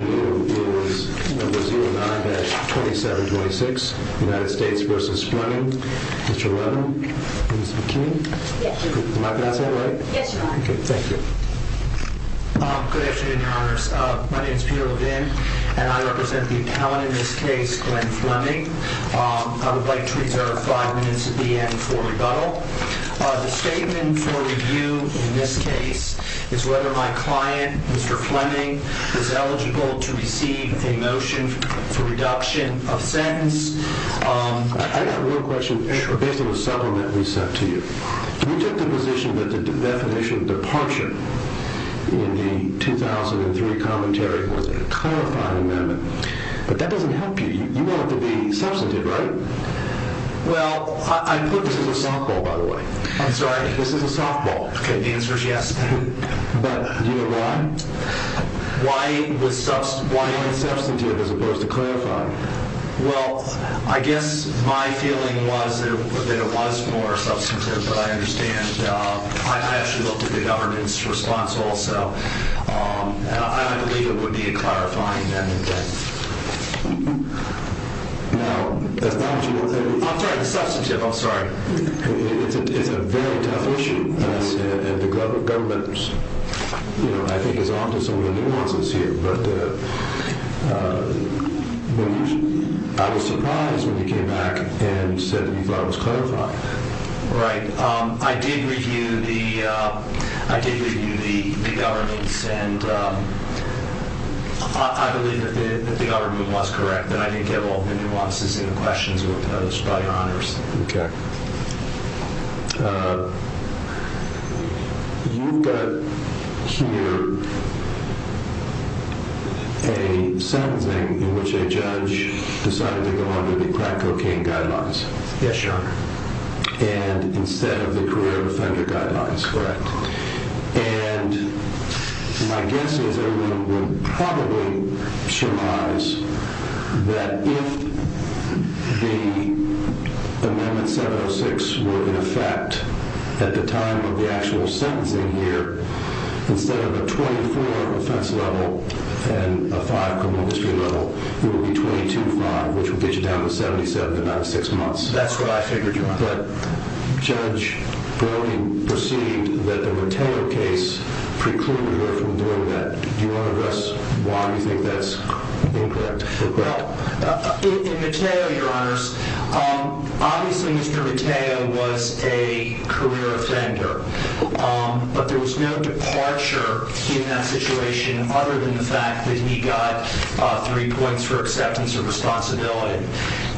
is number 09-2726, United States vs. Flemming. Mr. Levin, Ms. McKean. Am I pronouncing that right? Yes, you are. Okay, thank you. Good afternoon, your honors. My name is Peter Levin and I represent the accountant in this case, Glenn Flemming. I would like to reserve five minutes at the end for rebuttal. The statement for review in this case is whether my client, Mr. Flemming, is eligible to receive a motion for reduction of sentence. I have a real question based on the settlement we sent to you. You took the position that the definition of departure in the 2003 commentary was a clarifying amendment, but that doesn't help you. You want it to be substantive, right? Well, I put this as a softball, by the way. I'm sorry? This is a softball. Why? Why even substantive as opposed to clarifying? Well, I guess my feeling was that it was more substantive, but I understand. I actually looked at the government's response also. I believe it would be a clarifying amendment. I'm sorry, the substantive, I'm sorry. It's on to some of the nuances here, but I was surprised when you came back and said that you thought it was clarifying. Right. I did review the governments and I believe that the government was correct, that I didn't get all the nuances and the questions that Okay. You've got here a sentencing in which a judge decided to go under the crack cocaine guidelines. Yes, Your Honor. And instead of the career offender guidelines, correct? And my guess is everyone will probably surmise that if the amendment 706 were in effect at the time of the actual sentencing here, instead of a 24 offense level and a five criminal history level, it would be 22 five, which would get you down to 77 to 96 months. That's pretty clear. We learned from doing that. Do you want to address why you think that's incorrect? In Matteo, Your Honors, obviously Mr. Matteo was a career offender, but there was no departure in that situation other than the fact that he got three points for acceptance of responsibility.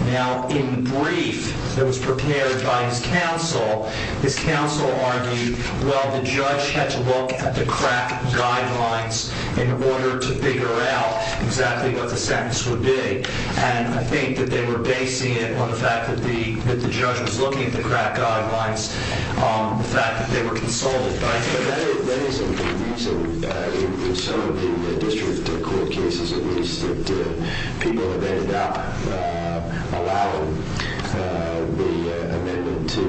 Now in brief that was prepared by his counsel, his counsel argued, well, the judge had to look at the crack guidelines in order to figure out exactly what the sentence would be. And I think that they were basing it on the fact that the, that the judge was looking at the crack guidelines, the fact that they were consulted. But I think that is a reason in some of the district court cases at least that people have ended up allowing the amendment to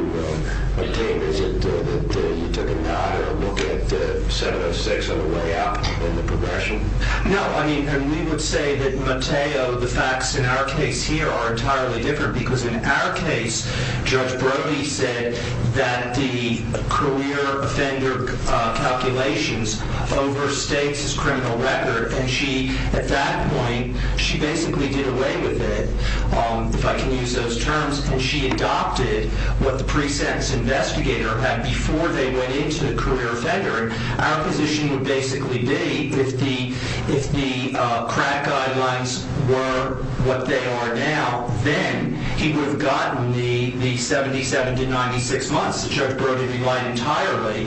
obtain. Is it that you took a nod or a look at 706 on the way up in the progression? No, I mean, we would say that Matteo, the facts in our case here are entirely different because in our case, Judge Brody said that the career offender calculations overstates his criminal record. And she, at that point, she basically did away with it, if I can use those terms, and she adopted what the pre-sentence investigator had before they went into the career offender. Our position would basically be if the, if the crack guidelines were what they are now, then he would have gotten the, the 77 to 96 months that Judge Brody relied entirely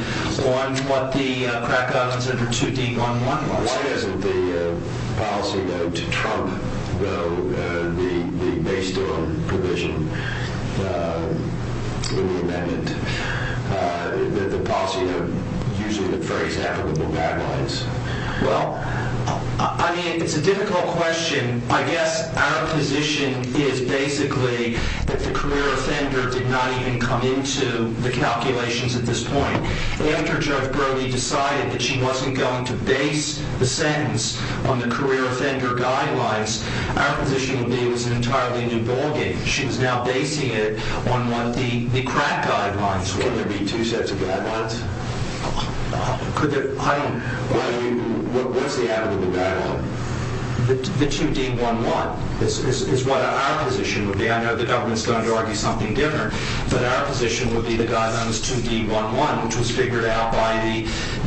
on what the crack guidelines under 2D11 was. Why doesn't the policy note to Trump though, the, the, based on provision in the amendment, the, the policy note usually would phrase applicable guidelines? Well, I mean, it's a difficult question. I guess our position is basically that the career offender did not even come into the calculations at this point. After Judge Brody decided that she wasn't going to base the sentence on the career offender guidelines, our position would be it was an entirely new ballgame. She was now basing it on what the, the crack guidelines were. Can there be two sets of guidelines? Could there, I... Why do you, what, what's the added to the guideline? The, the 2D11 is, is, is what our position would be. I know the government's going to argue something different, but our position would be the guidelines 2D11, which was figured out by the,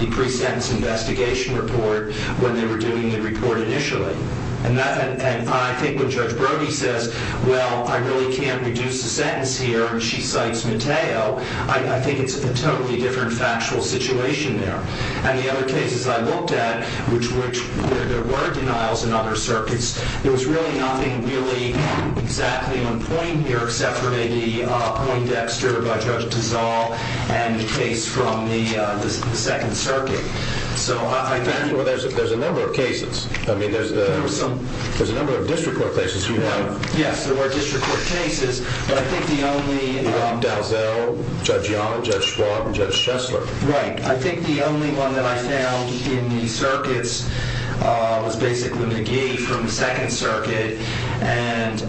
the pre-sentence investigation report when they were doing the report initially. And that, and, and I think when Judge Brody says, well, I really can't reduce the sentence here, and she cites Mateo, I, I think it's a totally different factual situation there. And the other cases I looked at, which, which there, there were denials in other circuits, there was really nothing really exactly on point here, except for maybe Owen Dexter by Judge Tizol and the case from the, the Second Circuit. So I think... There was some... There's a number of district court cases you have. Yes, there were district court cases, but I think the only... Dalzell, Judge Yonah, Judge Schwab, and Judge Shessler. Right. I think the only one that I found in the circuits was basically McGee from the Second Circuit, and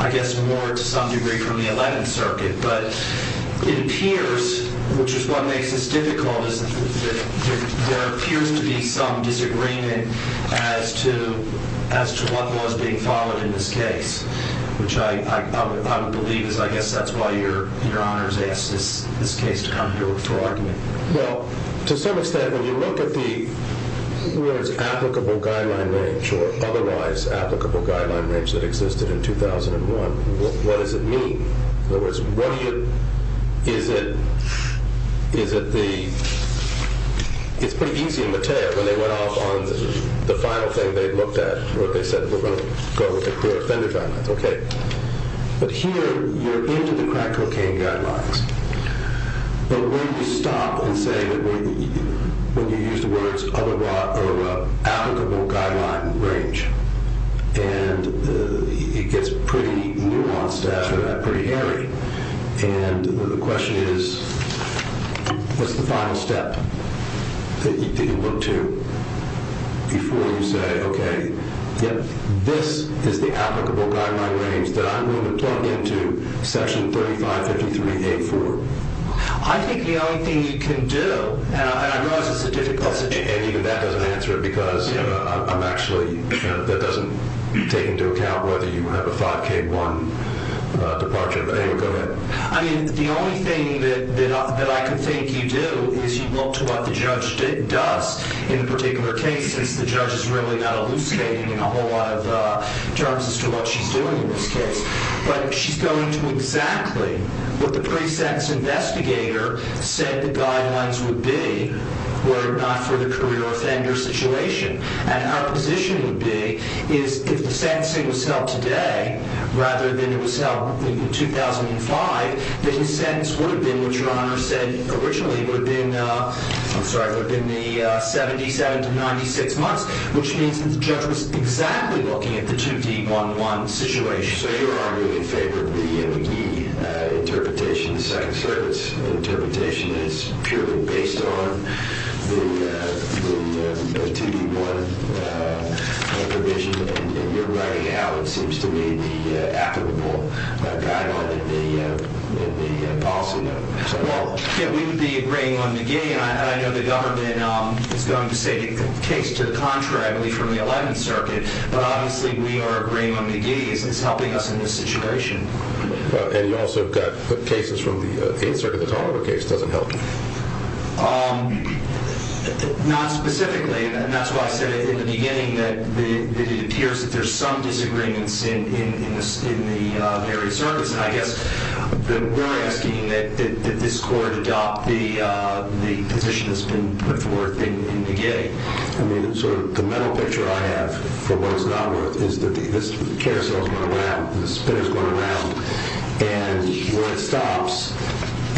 I guess more to some degree from the Eleventh Circuit. But it appears, which is what makes this difficult, is that there appears to be some disagreement as to, as to what was being followed in this case, which I, I, I would believe is, I guess that's why your, your Honor has asked this, this case to come to a full argument. Well, to some extent, when you look at the, whether it's applicable guideline range or otherwise applicable guideline range that existed in 2001, what, what does it mean? In other words, what do you... Is it, is it the... It's pretty easy in Matteo when they went off on the final thing they looked at, where they said, we're going to go with the clear offender guidelines, okay. But here, you're into the crack cocaine guidelines. But when you stop and say that we, when you use the words otherwise, or applicable guideline range, and it gets pretty nuanced after that, pretty hairy. And the question is, what's the final step that you look to before you say, okay, yep, this is the applicable guideline range that I'm willing to plug into Section 3553-84? I think the only thing you can do, and I realize it's a difficult situation, and even that doesn't answer it because I'm actually, that doesn't take into account whether you have a 5K1 departure, but anyway, go ahead. I mean, the only thing that I can think you do is you look to what the judge did and does in a particular case, since the judge is really not elucidating in a whole lot of terms as to what she's doing in this case. But she's going to exactly what the pre-sentence investigator said the guidelines would be were it not for the career offender situation. And our position would be is if the sentencing was held today rather than it was held in 2005, then the sentence would have been what Your Honor said originally would have been, I'm sorry, would have been the 77 to 96 months, which means that the judge was exactly looking at the 2D11 situation. So Your Honor, in favor of the McGee interpretation, the Second Circuit's interpretation is purely based on the 2D1 provision, and you're writing out, it seems to me, the applicable guideline in the policy note. Well, we would be agreeing on McGee, and I know the government is going to say the case to the contrary, I believe, from the Eleventh Circuit, but obviously we are agreeing on And you also got cases from the Eighth Circuit, the Toledo case doesn't help you. Not specifically, and that's why I said in the beginning that it appears that there's some disagreements in the various circuits, and I guess we're asking that this court adopt the position that's been put forth in McGee. The mental picture I have for what it's not worth is that the carousel is going around, the spinner is going around, and where it stops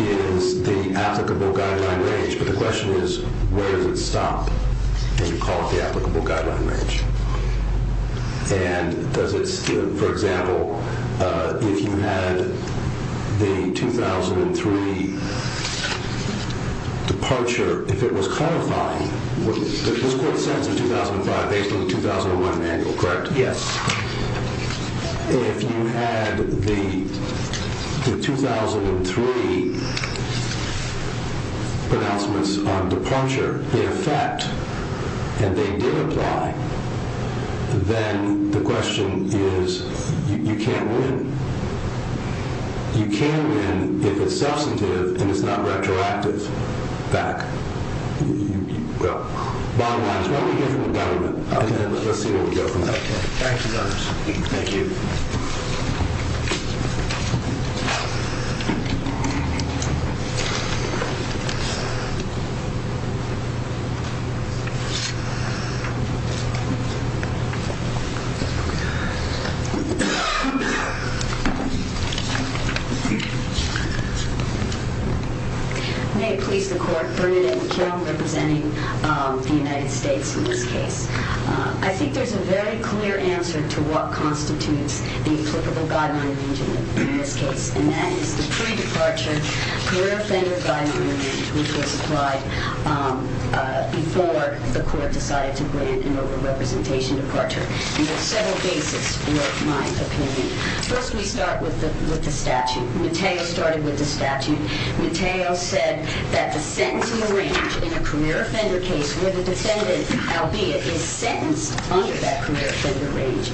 is the applicable guideline range, but the question is, where does it stop? And you call it the applicable guideline range. And does it still, for example, if you had the 2003 departure, if it was codifying, this court sentence in 2005 based on the 2001 manual, correct? Yes. If you had the 2003 pronouncements on departure, in effect, and they did apply, then the question is, you can't win. You can win if it's substantive and it's not retroactive. Back. Well, bottom line is, why don't we hear from the government, and let's see where we go from there. Thank you. Thank you. May it please the Court, Bernadette McKeown representing the United States in this case. I think there's a very clear answer to what constitutes the applicable guideline range in this case, and that is the pre-departure career offender guideline range, which was applied before the Court decided to grant an over-representation departure, and there are several bases for my opinion. First, we start with the statute. Mateo started with the statute. Mateo said that the sentence in the range in a career offender case where the defendant, albeit, is sentenced under that career offender range,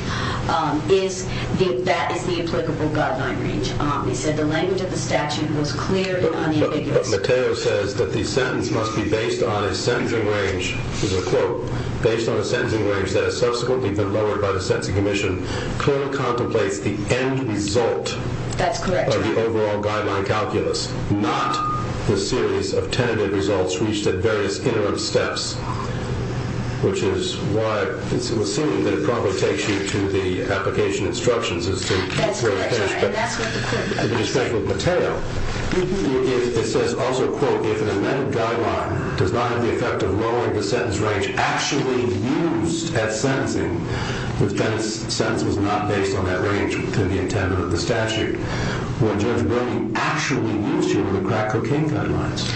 that is the applicable guideline range. He said the language of the statute was clear and unambiguous. But Mateo says that the sentence must be based on a sentencing range, quote, based on a sentencing range that has subsequently been lowered by the Sentencing Commission, clearly contemplates the end result of the overall guideline calculus, not the series of tentative results reached at various interim steps, which is why it's assumed that it probably takes you to the application instructions as to where to finish. That's correct, Your Honor. And that's what the Court has said. But in his case with Mateo, it says also, quote, if an amended guideline does not have the effect of lowering the sentence range actually used at sentencing, if then the sentence was not based on that range to the intent of the statute, would Judge Wilney actually use the crack cocaine guidelines?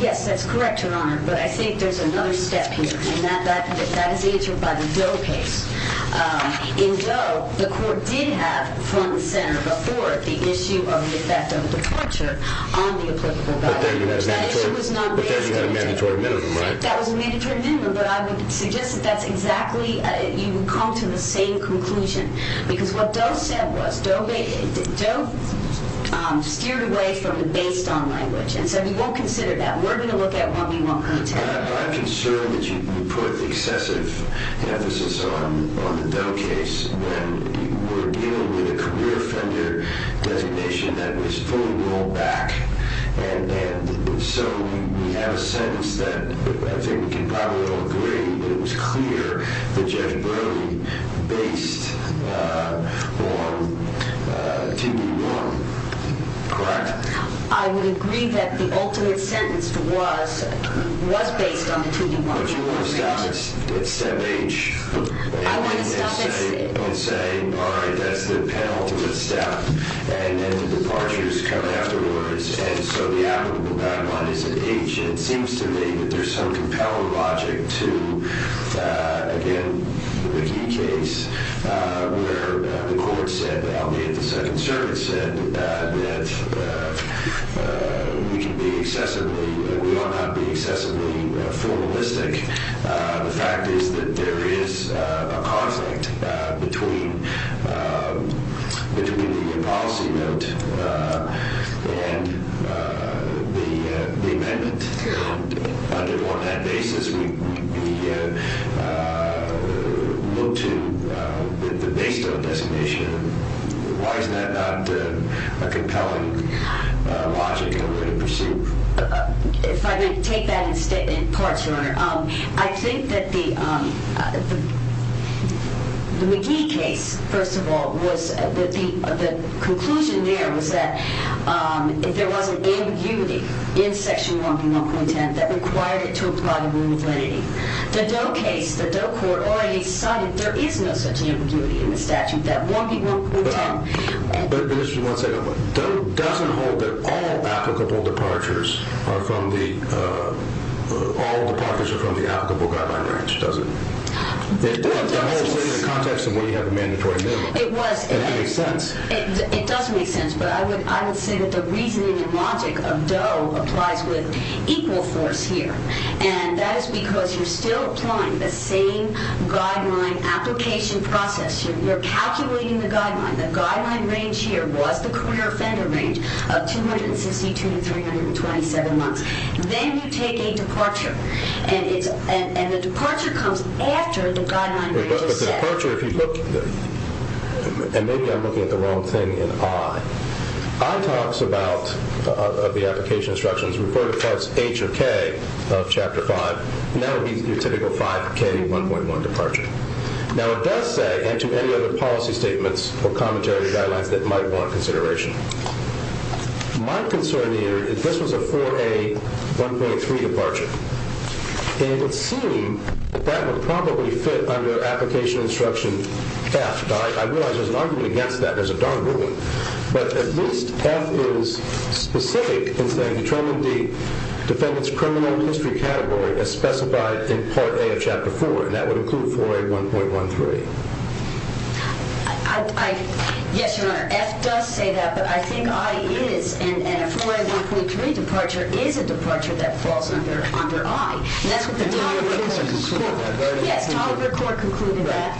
Yes, that's correct, Your Honor. But I think there's another step here. And that is answered by the Doe case. In Doe, the Court did have from the senator before the issue of the effect of departure on the applicable guideline. But then you had a mandatory minimum, right? That was a mandatory minimum. But I would suggest that that's exactly, you would come to the same conclusion. Because what Doe said was, Doe steered away from the based on language. And so he won't consider that. Now, we're going to look at what we won't consider. I'm concerned that you put excessive emphasis on the Doe case when you were dealing with a career offender designation that was fully rolled back. And so we have a sentence that I think we can probably all agree that it was clear that Judge Brody based on TV1, correct? I would agree that the ultimate sentence was based on the TV1. But you want to stop at step H. I want to stop at C. And say, all right, that's the penultimate step. And then the departure is coming afterwards. And so the applicable guideline is at H. And it seems to me that there's some compelling logic to, again, the Mickey case where the Second Circuit said that we can be excessively, we ought not be excessively formalistic. The fact is that there is a conflict between the policy note and the amendment. On that basis, we look to the base Doe designation. Why is that not a compelling logic and a way to pursue? If I may take that in parts, Your Honor. I think that the Mickey case, first of all, was the conclusion there was that if there is no such ambiguity in the statute that 1B1.10, that required it to apply the rule of lenity. The Doe case, the Doe court already cited there is no such ambiguity in the statute that 1B1.10. But just for one second. Doe doesn't hold that all applicable departures are from the, all departures are from the applicable guideline range, does it? It does. The whole thing in the context of when you have a mandatory bill. It was. It makes sense. It does make sense. But I would say that the reasoning and logic of Doe applies with equal force here. And that is because you're still applying the same guideline application process. You're calculating the guideline. The guideline range here was the career offender range of 262 to 327 months. Then you take a departure. And the departure comes after the guideline range is set. But the departure, if you look, and maybe I'm looking at the wrong thing in I. I talks about the application instructions refer to parts H or K of chapter five. And that would be your typical 5K1.1 departure. Now it does say, and to any other policy statements or commentary guidelines that might want consideration. My concern here is this was a 4A1.3 departure. It would seem that that would probably fit under application instruction F. I realize there's an argument against that. There's a darn good one. But at least F is specific in saying determine the defendant's criminal history category as specified in part A of chapter four. And that would include 4A1.13. Yes, Your Honor. F does say that. But I think I is. And a 4A1.3 departure is a departure that falls under I. And that's what the Taliaferro court concluded. Yes, Taliaferro court concluded that.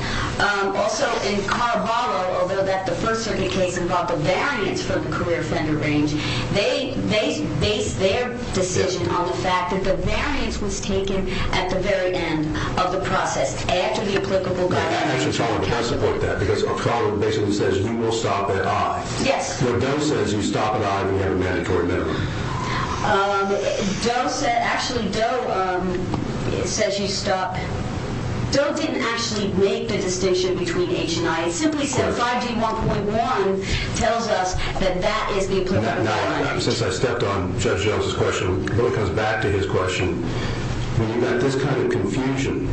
Also in Carvalho, although that the First Circuit case involved a variance for the career offender range. They based their decision on the fact that the variance was taken at the very end of the process. I support that because Carvalho basically says you will stop at I. Yes. But Doe says you stop at I if you have a mandatory memory. Doe said, actually Doe says you stop. Doe didn't actually make the distinction between H and I. It simply said 5D1.1 tells us that that is the applicable guideline. Since I stepped on Judge Jones' question, it really comes back to his question. When you've got this kind of confusion,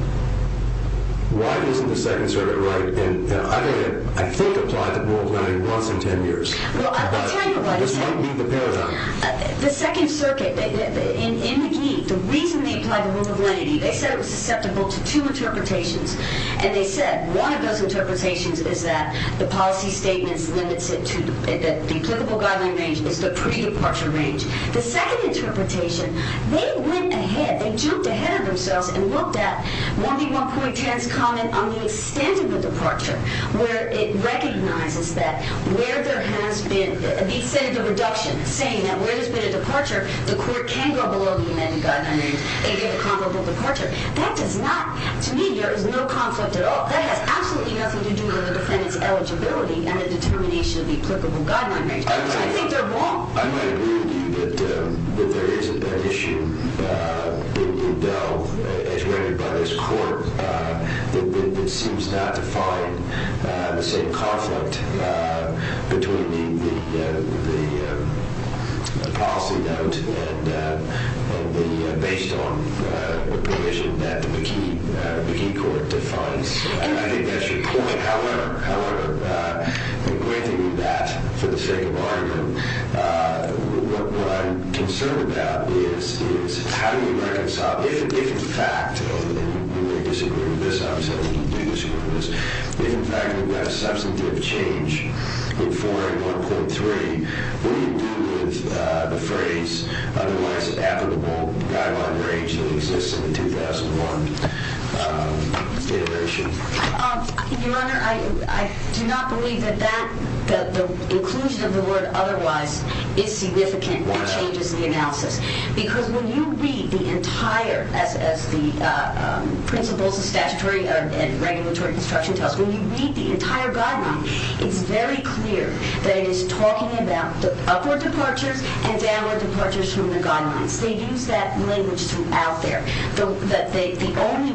why isn't the Second Circuit right? And I think applied the rule of lenity once in 10 years. Well, I'll tell you why. This might be the paradigm. The Second Circuit in McGee, the reason they applied the rule of lenity, they said it was susceptible to two interpretations. And they said one of those interpretations is that the policy statement limits it to the applicable guideline range. It's the pre-departure range. The second interpretation, they went ahead. They juked ahead of themselves and looked at 1D1.10's comment on the extent of the departure, where it recognizes that where there has been a reduction, saying that where there's been a departure, the court can go below the amended guideline range and get a comparable departure. That does not, to me, there is no conflict at all. That has absolutely nothing to do with the defendant's eligibility and the determination of the applicable guideline range. I think they're wrong. I might agree with you that there is an issue, as rendered by this court, that seems not to find the same conflict between the policy note and the based on provision that the McGee court defines. I think that's your point. However, the way they do that, for the sake of argument, what I'm concerned about is how do you reconcile, if in fact, and you may disagree with this, obviously I wouldn't disagree with this, if in fact we've got a substantive change in 4A1.3, what do you do with the phrase otherwise applicable guideline range that exists in the 2001 determination? Your Honor, I do not believe that the inclusion of the word otherwise is significant and changes the analysis. Because when you read the entire, as the principles of statutory and regulatory construction tells us, when you read the entire guideline, it's very clear that it is talking about the upward departures and downward departures from the guidelines. They use that language throughout there. The only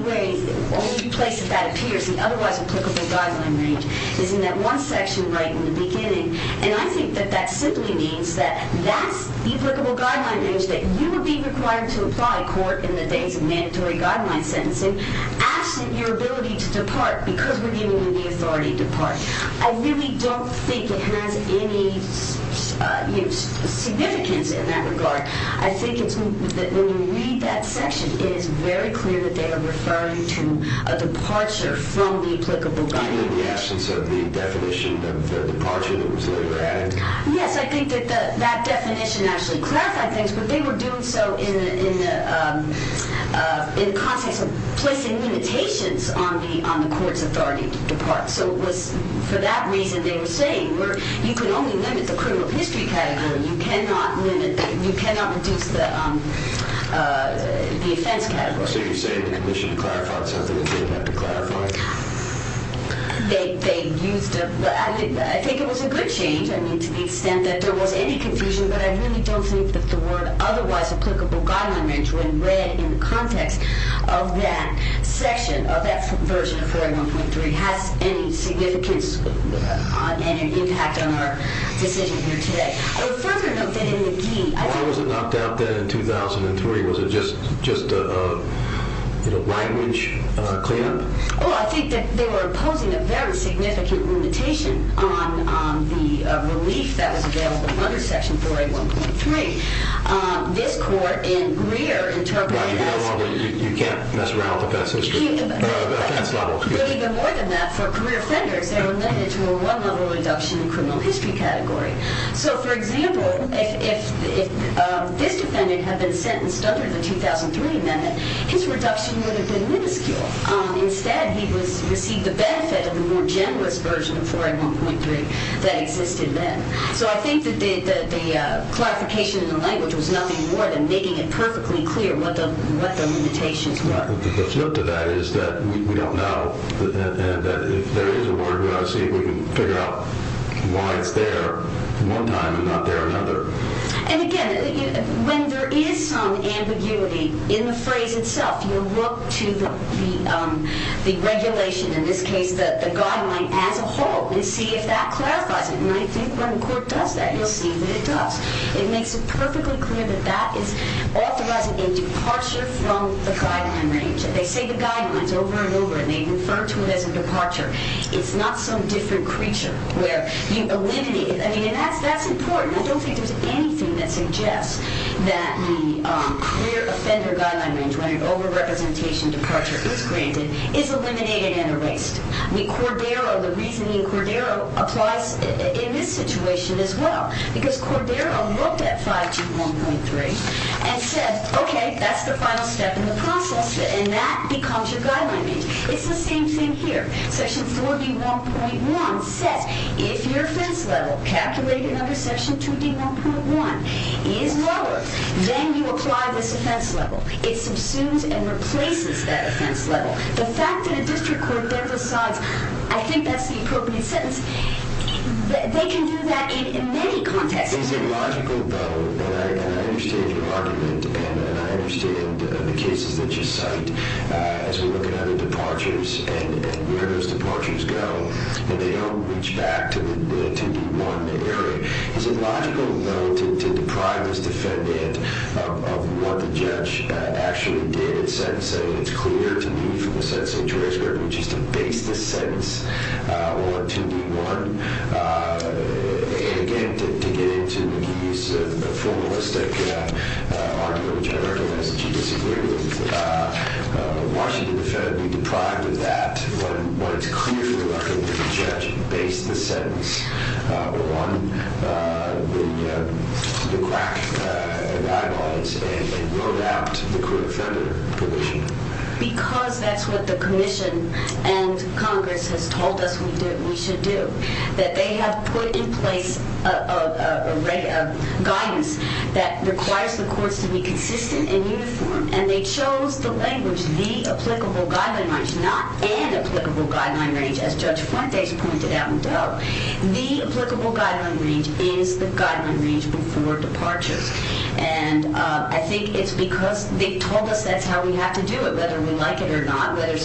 place that that appears, the otherwise applicable guideline range, is in that one section right in the beginning. And I think that that simply means that that's the applicable guideline range that you would be required to apply court in the days of mandatory guideline sentencing, absent your ability to depart because we're giving you the authority to depart. I really don't think it has any significance in that regard. I think that when you read that section, it is very clear that they are referring to a departure from the applicable guideline range. In the absence of the definition of the departure that was later added? Yes, I think that that definition actually clarified things, but they were doing so in the context of placing limitations on the court's authority to depart. So it was for that reason they were saying you can only limit the criminal history category. You cannot reduce the offense category. So you're saying the commission clarified something they didn't have to clarify? I think it was a good change to the extent that there was any confusion, but I really don't think that the word otherwise applicable guideline range, when read in the context of that section of that version of 4A1.3, has any significance and impact on our decision here today. Why was it knocked out then in 2003? Was it just a language cleanup? Well, I think that they were imposing a very significant limitation on the relief that was available under Section 4A1.3. This court in Greer interpreted it as... You can't mess around with offense history. But even more than that, for career offenders, they were limited to a one-level reduction in criminal history category. So, for example, if this defendant had been sentenced under the 2003 amendment, his reduction would have been minuscule. Instead, he received the benefit of the more generous version of 4A1.3 that existed then. So I think that the clarification in the language was nothing more than making it perfectly clear what the limitations were. The flip to that is that we don't know. And if there is a warrant, we ought to see if we can figure out why it's there one time and not the other. And again, when there is some ambiguity in the phrase itself, you look to the regulation, in this case the guideline as a whole, and see if that clarifies it. And I think when the court does that, you'll see that it does. It makes it perfectly clear that that is authorizing a departure from the guideline range. They say the guideline's over and over, and they refer to it as a departure. It's not some different creature where you eliminate it. I mean, that's important. I don't think there's anything that suggests that the career offender guideline range, when an over-representation departure is granted, is eliminated and erased. I mean, Cordero, the reasoning Cordero applies in this situation as well. Because Cordero looked at 5G1.3 and said, okay, that's the final step in the process, and that becomes your guideline range. It's the same thing here. Section 4D1.1 says if your offense level, calculated under Section 2D1.1, is lower, then you apply this offense level. It subsumes and replaces that offense level. The fact that a district court then decides, I think that's the appropriate sentence, they can do that in many contexts. Is it logical, though, and I understand your argument, and I understand the cases that you cite as we look at other departures and where those departures go when they don't reach back to the 2D1 area. Is it logical, though, to deprive this defendant of what the judge actually did in sentencing? It's clear to me from the sentencing transcript, which is to base this sentence on 2D1, and again, to get into the use of the formalistic argument, which I recognize that you disagree with, Washington will be deprived of that. But it's clear to me that the judge based the sentence on the crack guidelines and wrote out the court-offender provision. Because that's what the commission and Congress has told us we should do, that they have put in place a guidance that requires the courts to be consistent and uniform, and they chose the language, the applicable guideline range, not an applicable guideline range, as Judge Fuentes pointed out in Doe. The applicable guideline range is the guideline range before departures. And I think it's because they've told us that's how we have to do it, whether we like it or not. There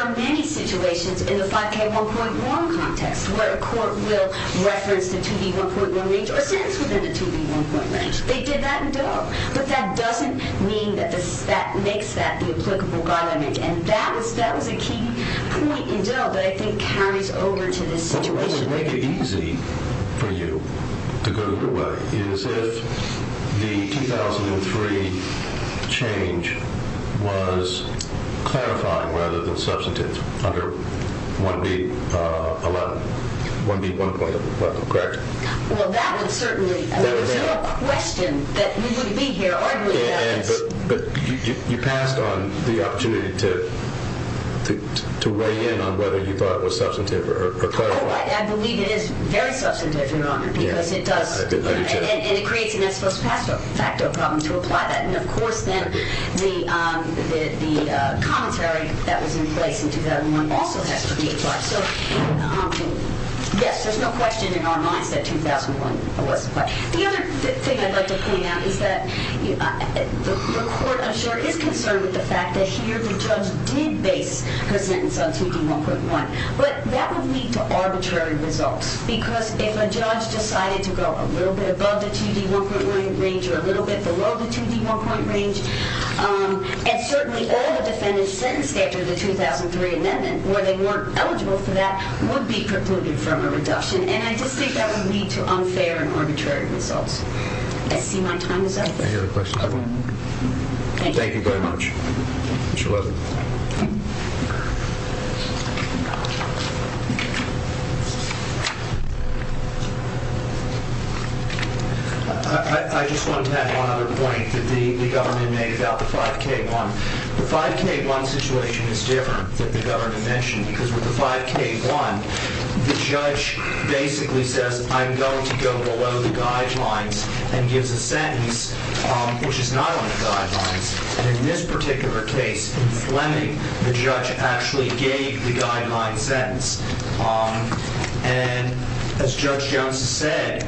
are many situations in the 5K1.1 context where a court will reference the 2D1.1 range or sentence within the 2D1.1 range. They did that in Doe. But that doesn't mean that that makes that the applicable guideline range. And that was a key point in Doe that I think carries over to this situation. What would make it easy for you to go your way is if the 2003 change was clarifying rather than substantive under 1B.11, 1B.1.11, correct? Well, that would certainly be a question that we would be here arguing about. But you passed on the opportunity to weigh in on whether you thought it was substantive or clarifying. Well, I believe it is very substantive, Your Honor, because it does. And it creates an ex post facto problem to apply that. And, of course, then the commentary that was in place in 2001 also has to be applied. So, yes, there's no question in our minds that 2001 was applied. The other thing I'd like to point out is that your court, I'm sure, is concerned with the fact that here the judge did base her sentence on 2D1.1. But that would lead to arbitrary results. Because if a judge decided to go a little bit above the 2D1.1 range or a little bit below the 2D1.1 range, and certainly all the defendants sentenced after the 2003 amendment where they weren't eligible for that would be precluded from a reduction. And I just think that would lead to unfair and arbitrary results. I see my time is up. I hear the question. Thank you. Thank you very much. Mr. Levin. I just wanted to add one other point that the government made about the 5K1. The 5K1 situation is different than the government mentioned. Because with the 5K1, the judge basically says, I'm going to go below the guidelines and gives a sentence which is not on the guidelines. And in this particular case, Fleming, the judge, actually gave the guideline sentence. And as Judge Jones has said,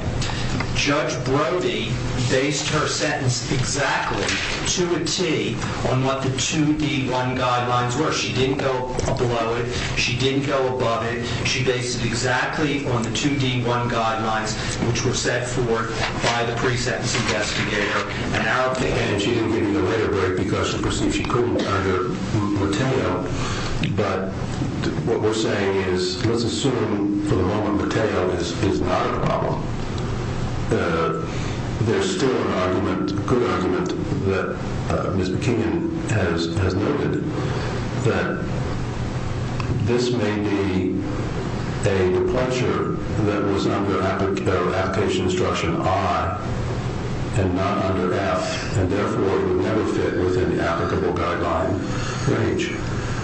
Judge Brody based her sentence exactly to a T on what the 2D1 guidelines were. She didn't go below it. She didn't go above it. She based it exactly on the 2D1 guidelines which were set forth by the pre-sentence investigator. And she didn't give you the letter because she perceived she couldn't under Mateo. But what we're saying is, let's assume for the moment Mateo is not a problem. There's still an argument, a good argument that Ms. McKinnon has noted that this may be a departure that was under application instruction I and not under F. And therefore, it would never fit within the applicable guideline range.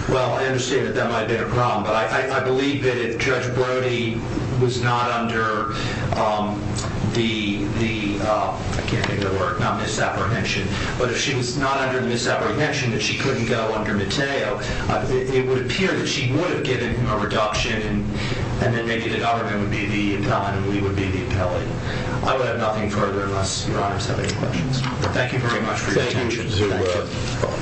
Well, I understand that that might have been a problem. But I believe that if Judge Brody was not under the, I can't think of the word, not misapprehension, but if she was not under the misapprehension that she couldn't go under Mateo, it would appear that she would have given him a reduction. And then maybe the government would be the impelling and we would be the impelling. I would have nothing further unless your honors have any questions. Thank you very much for your attention. Thank you to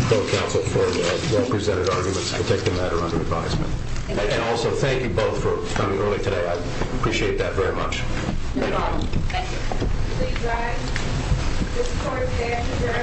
both counsel for the well presented arguments to take the matter under advisement. And also thank you both for coming early today. I appreciate that very much. Thank you.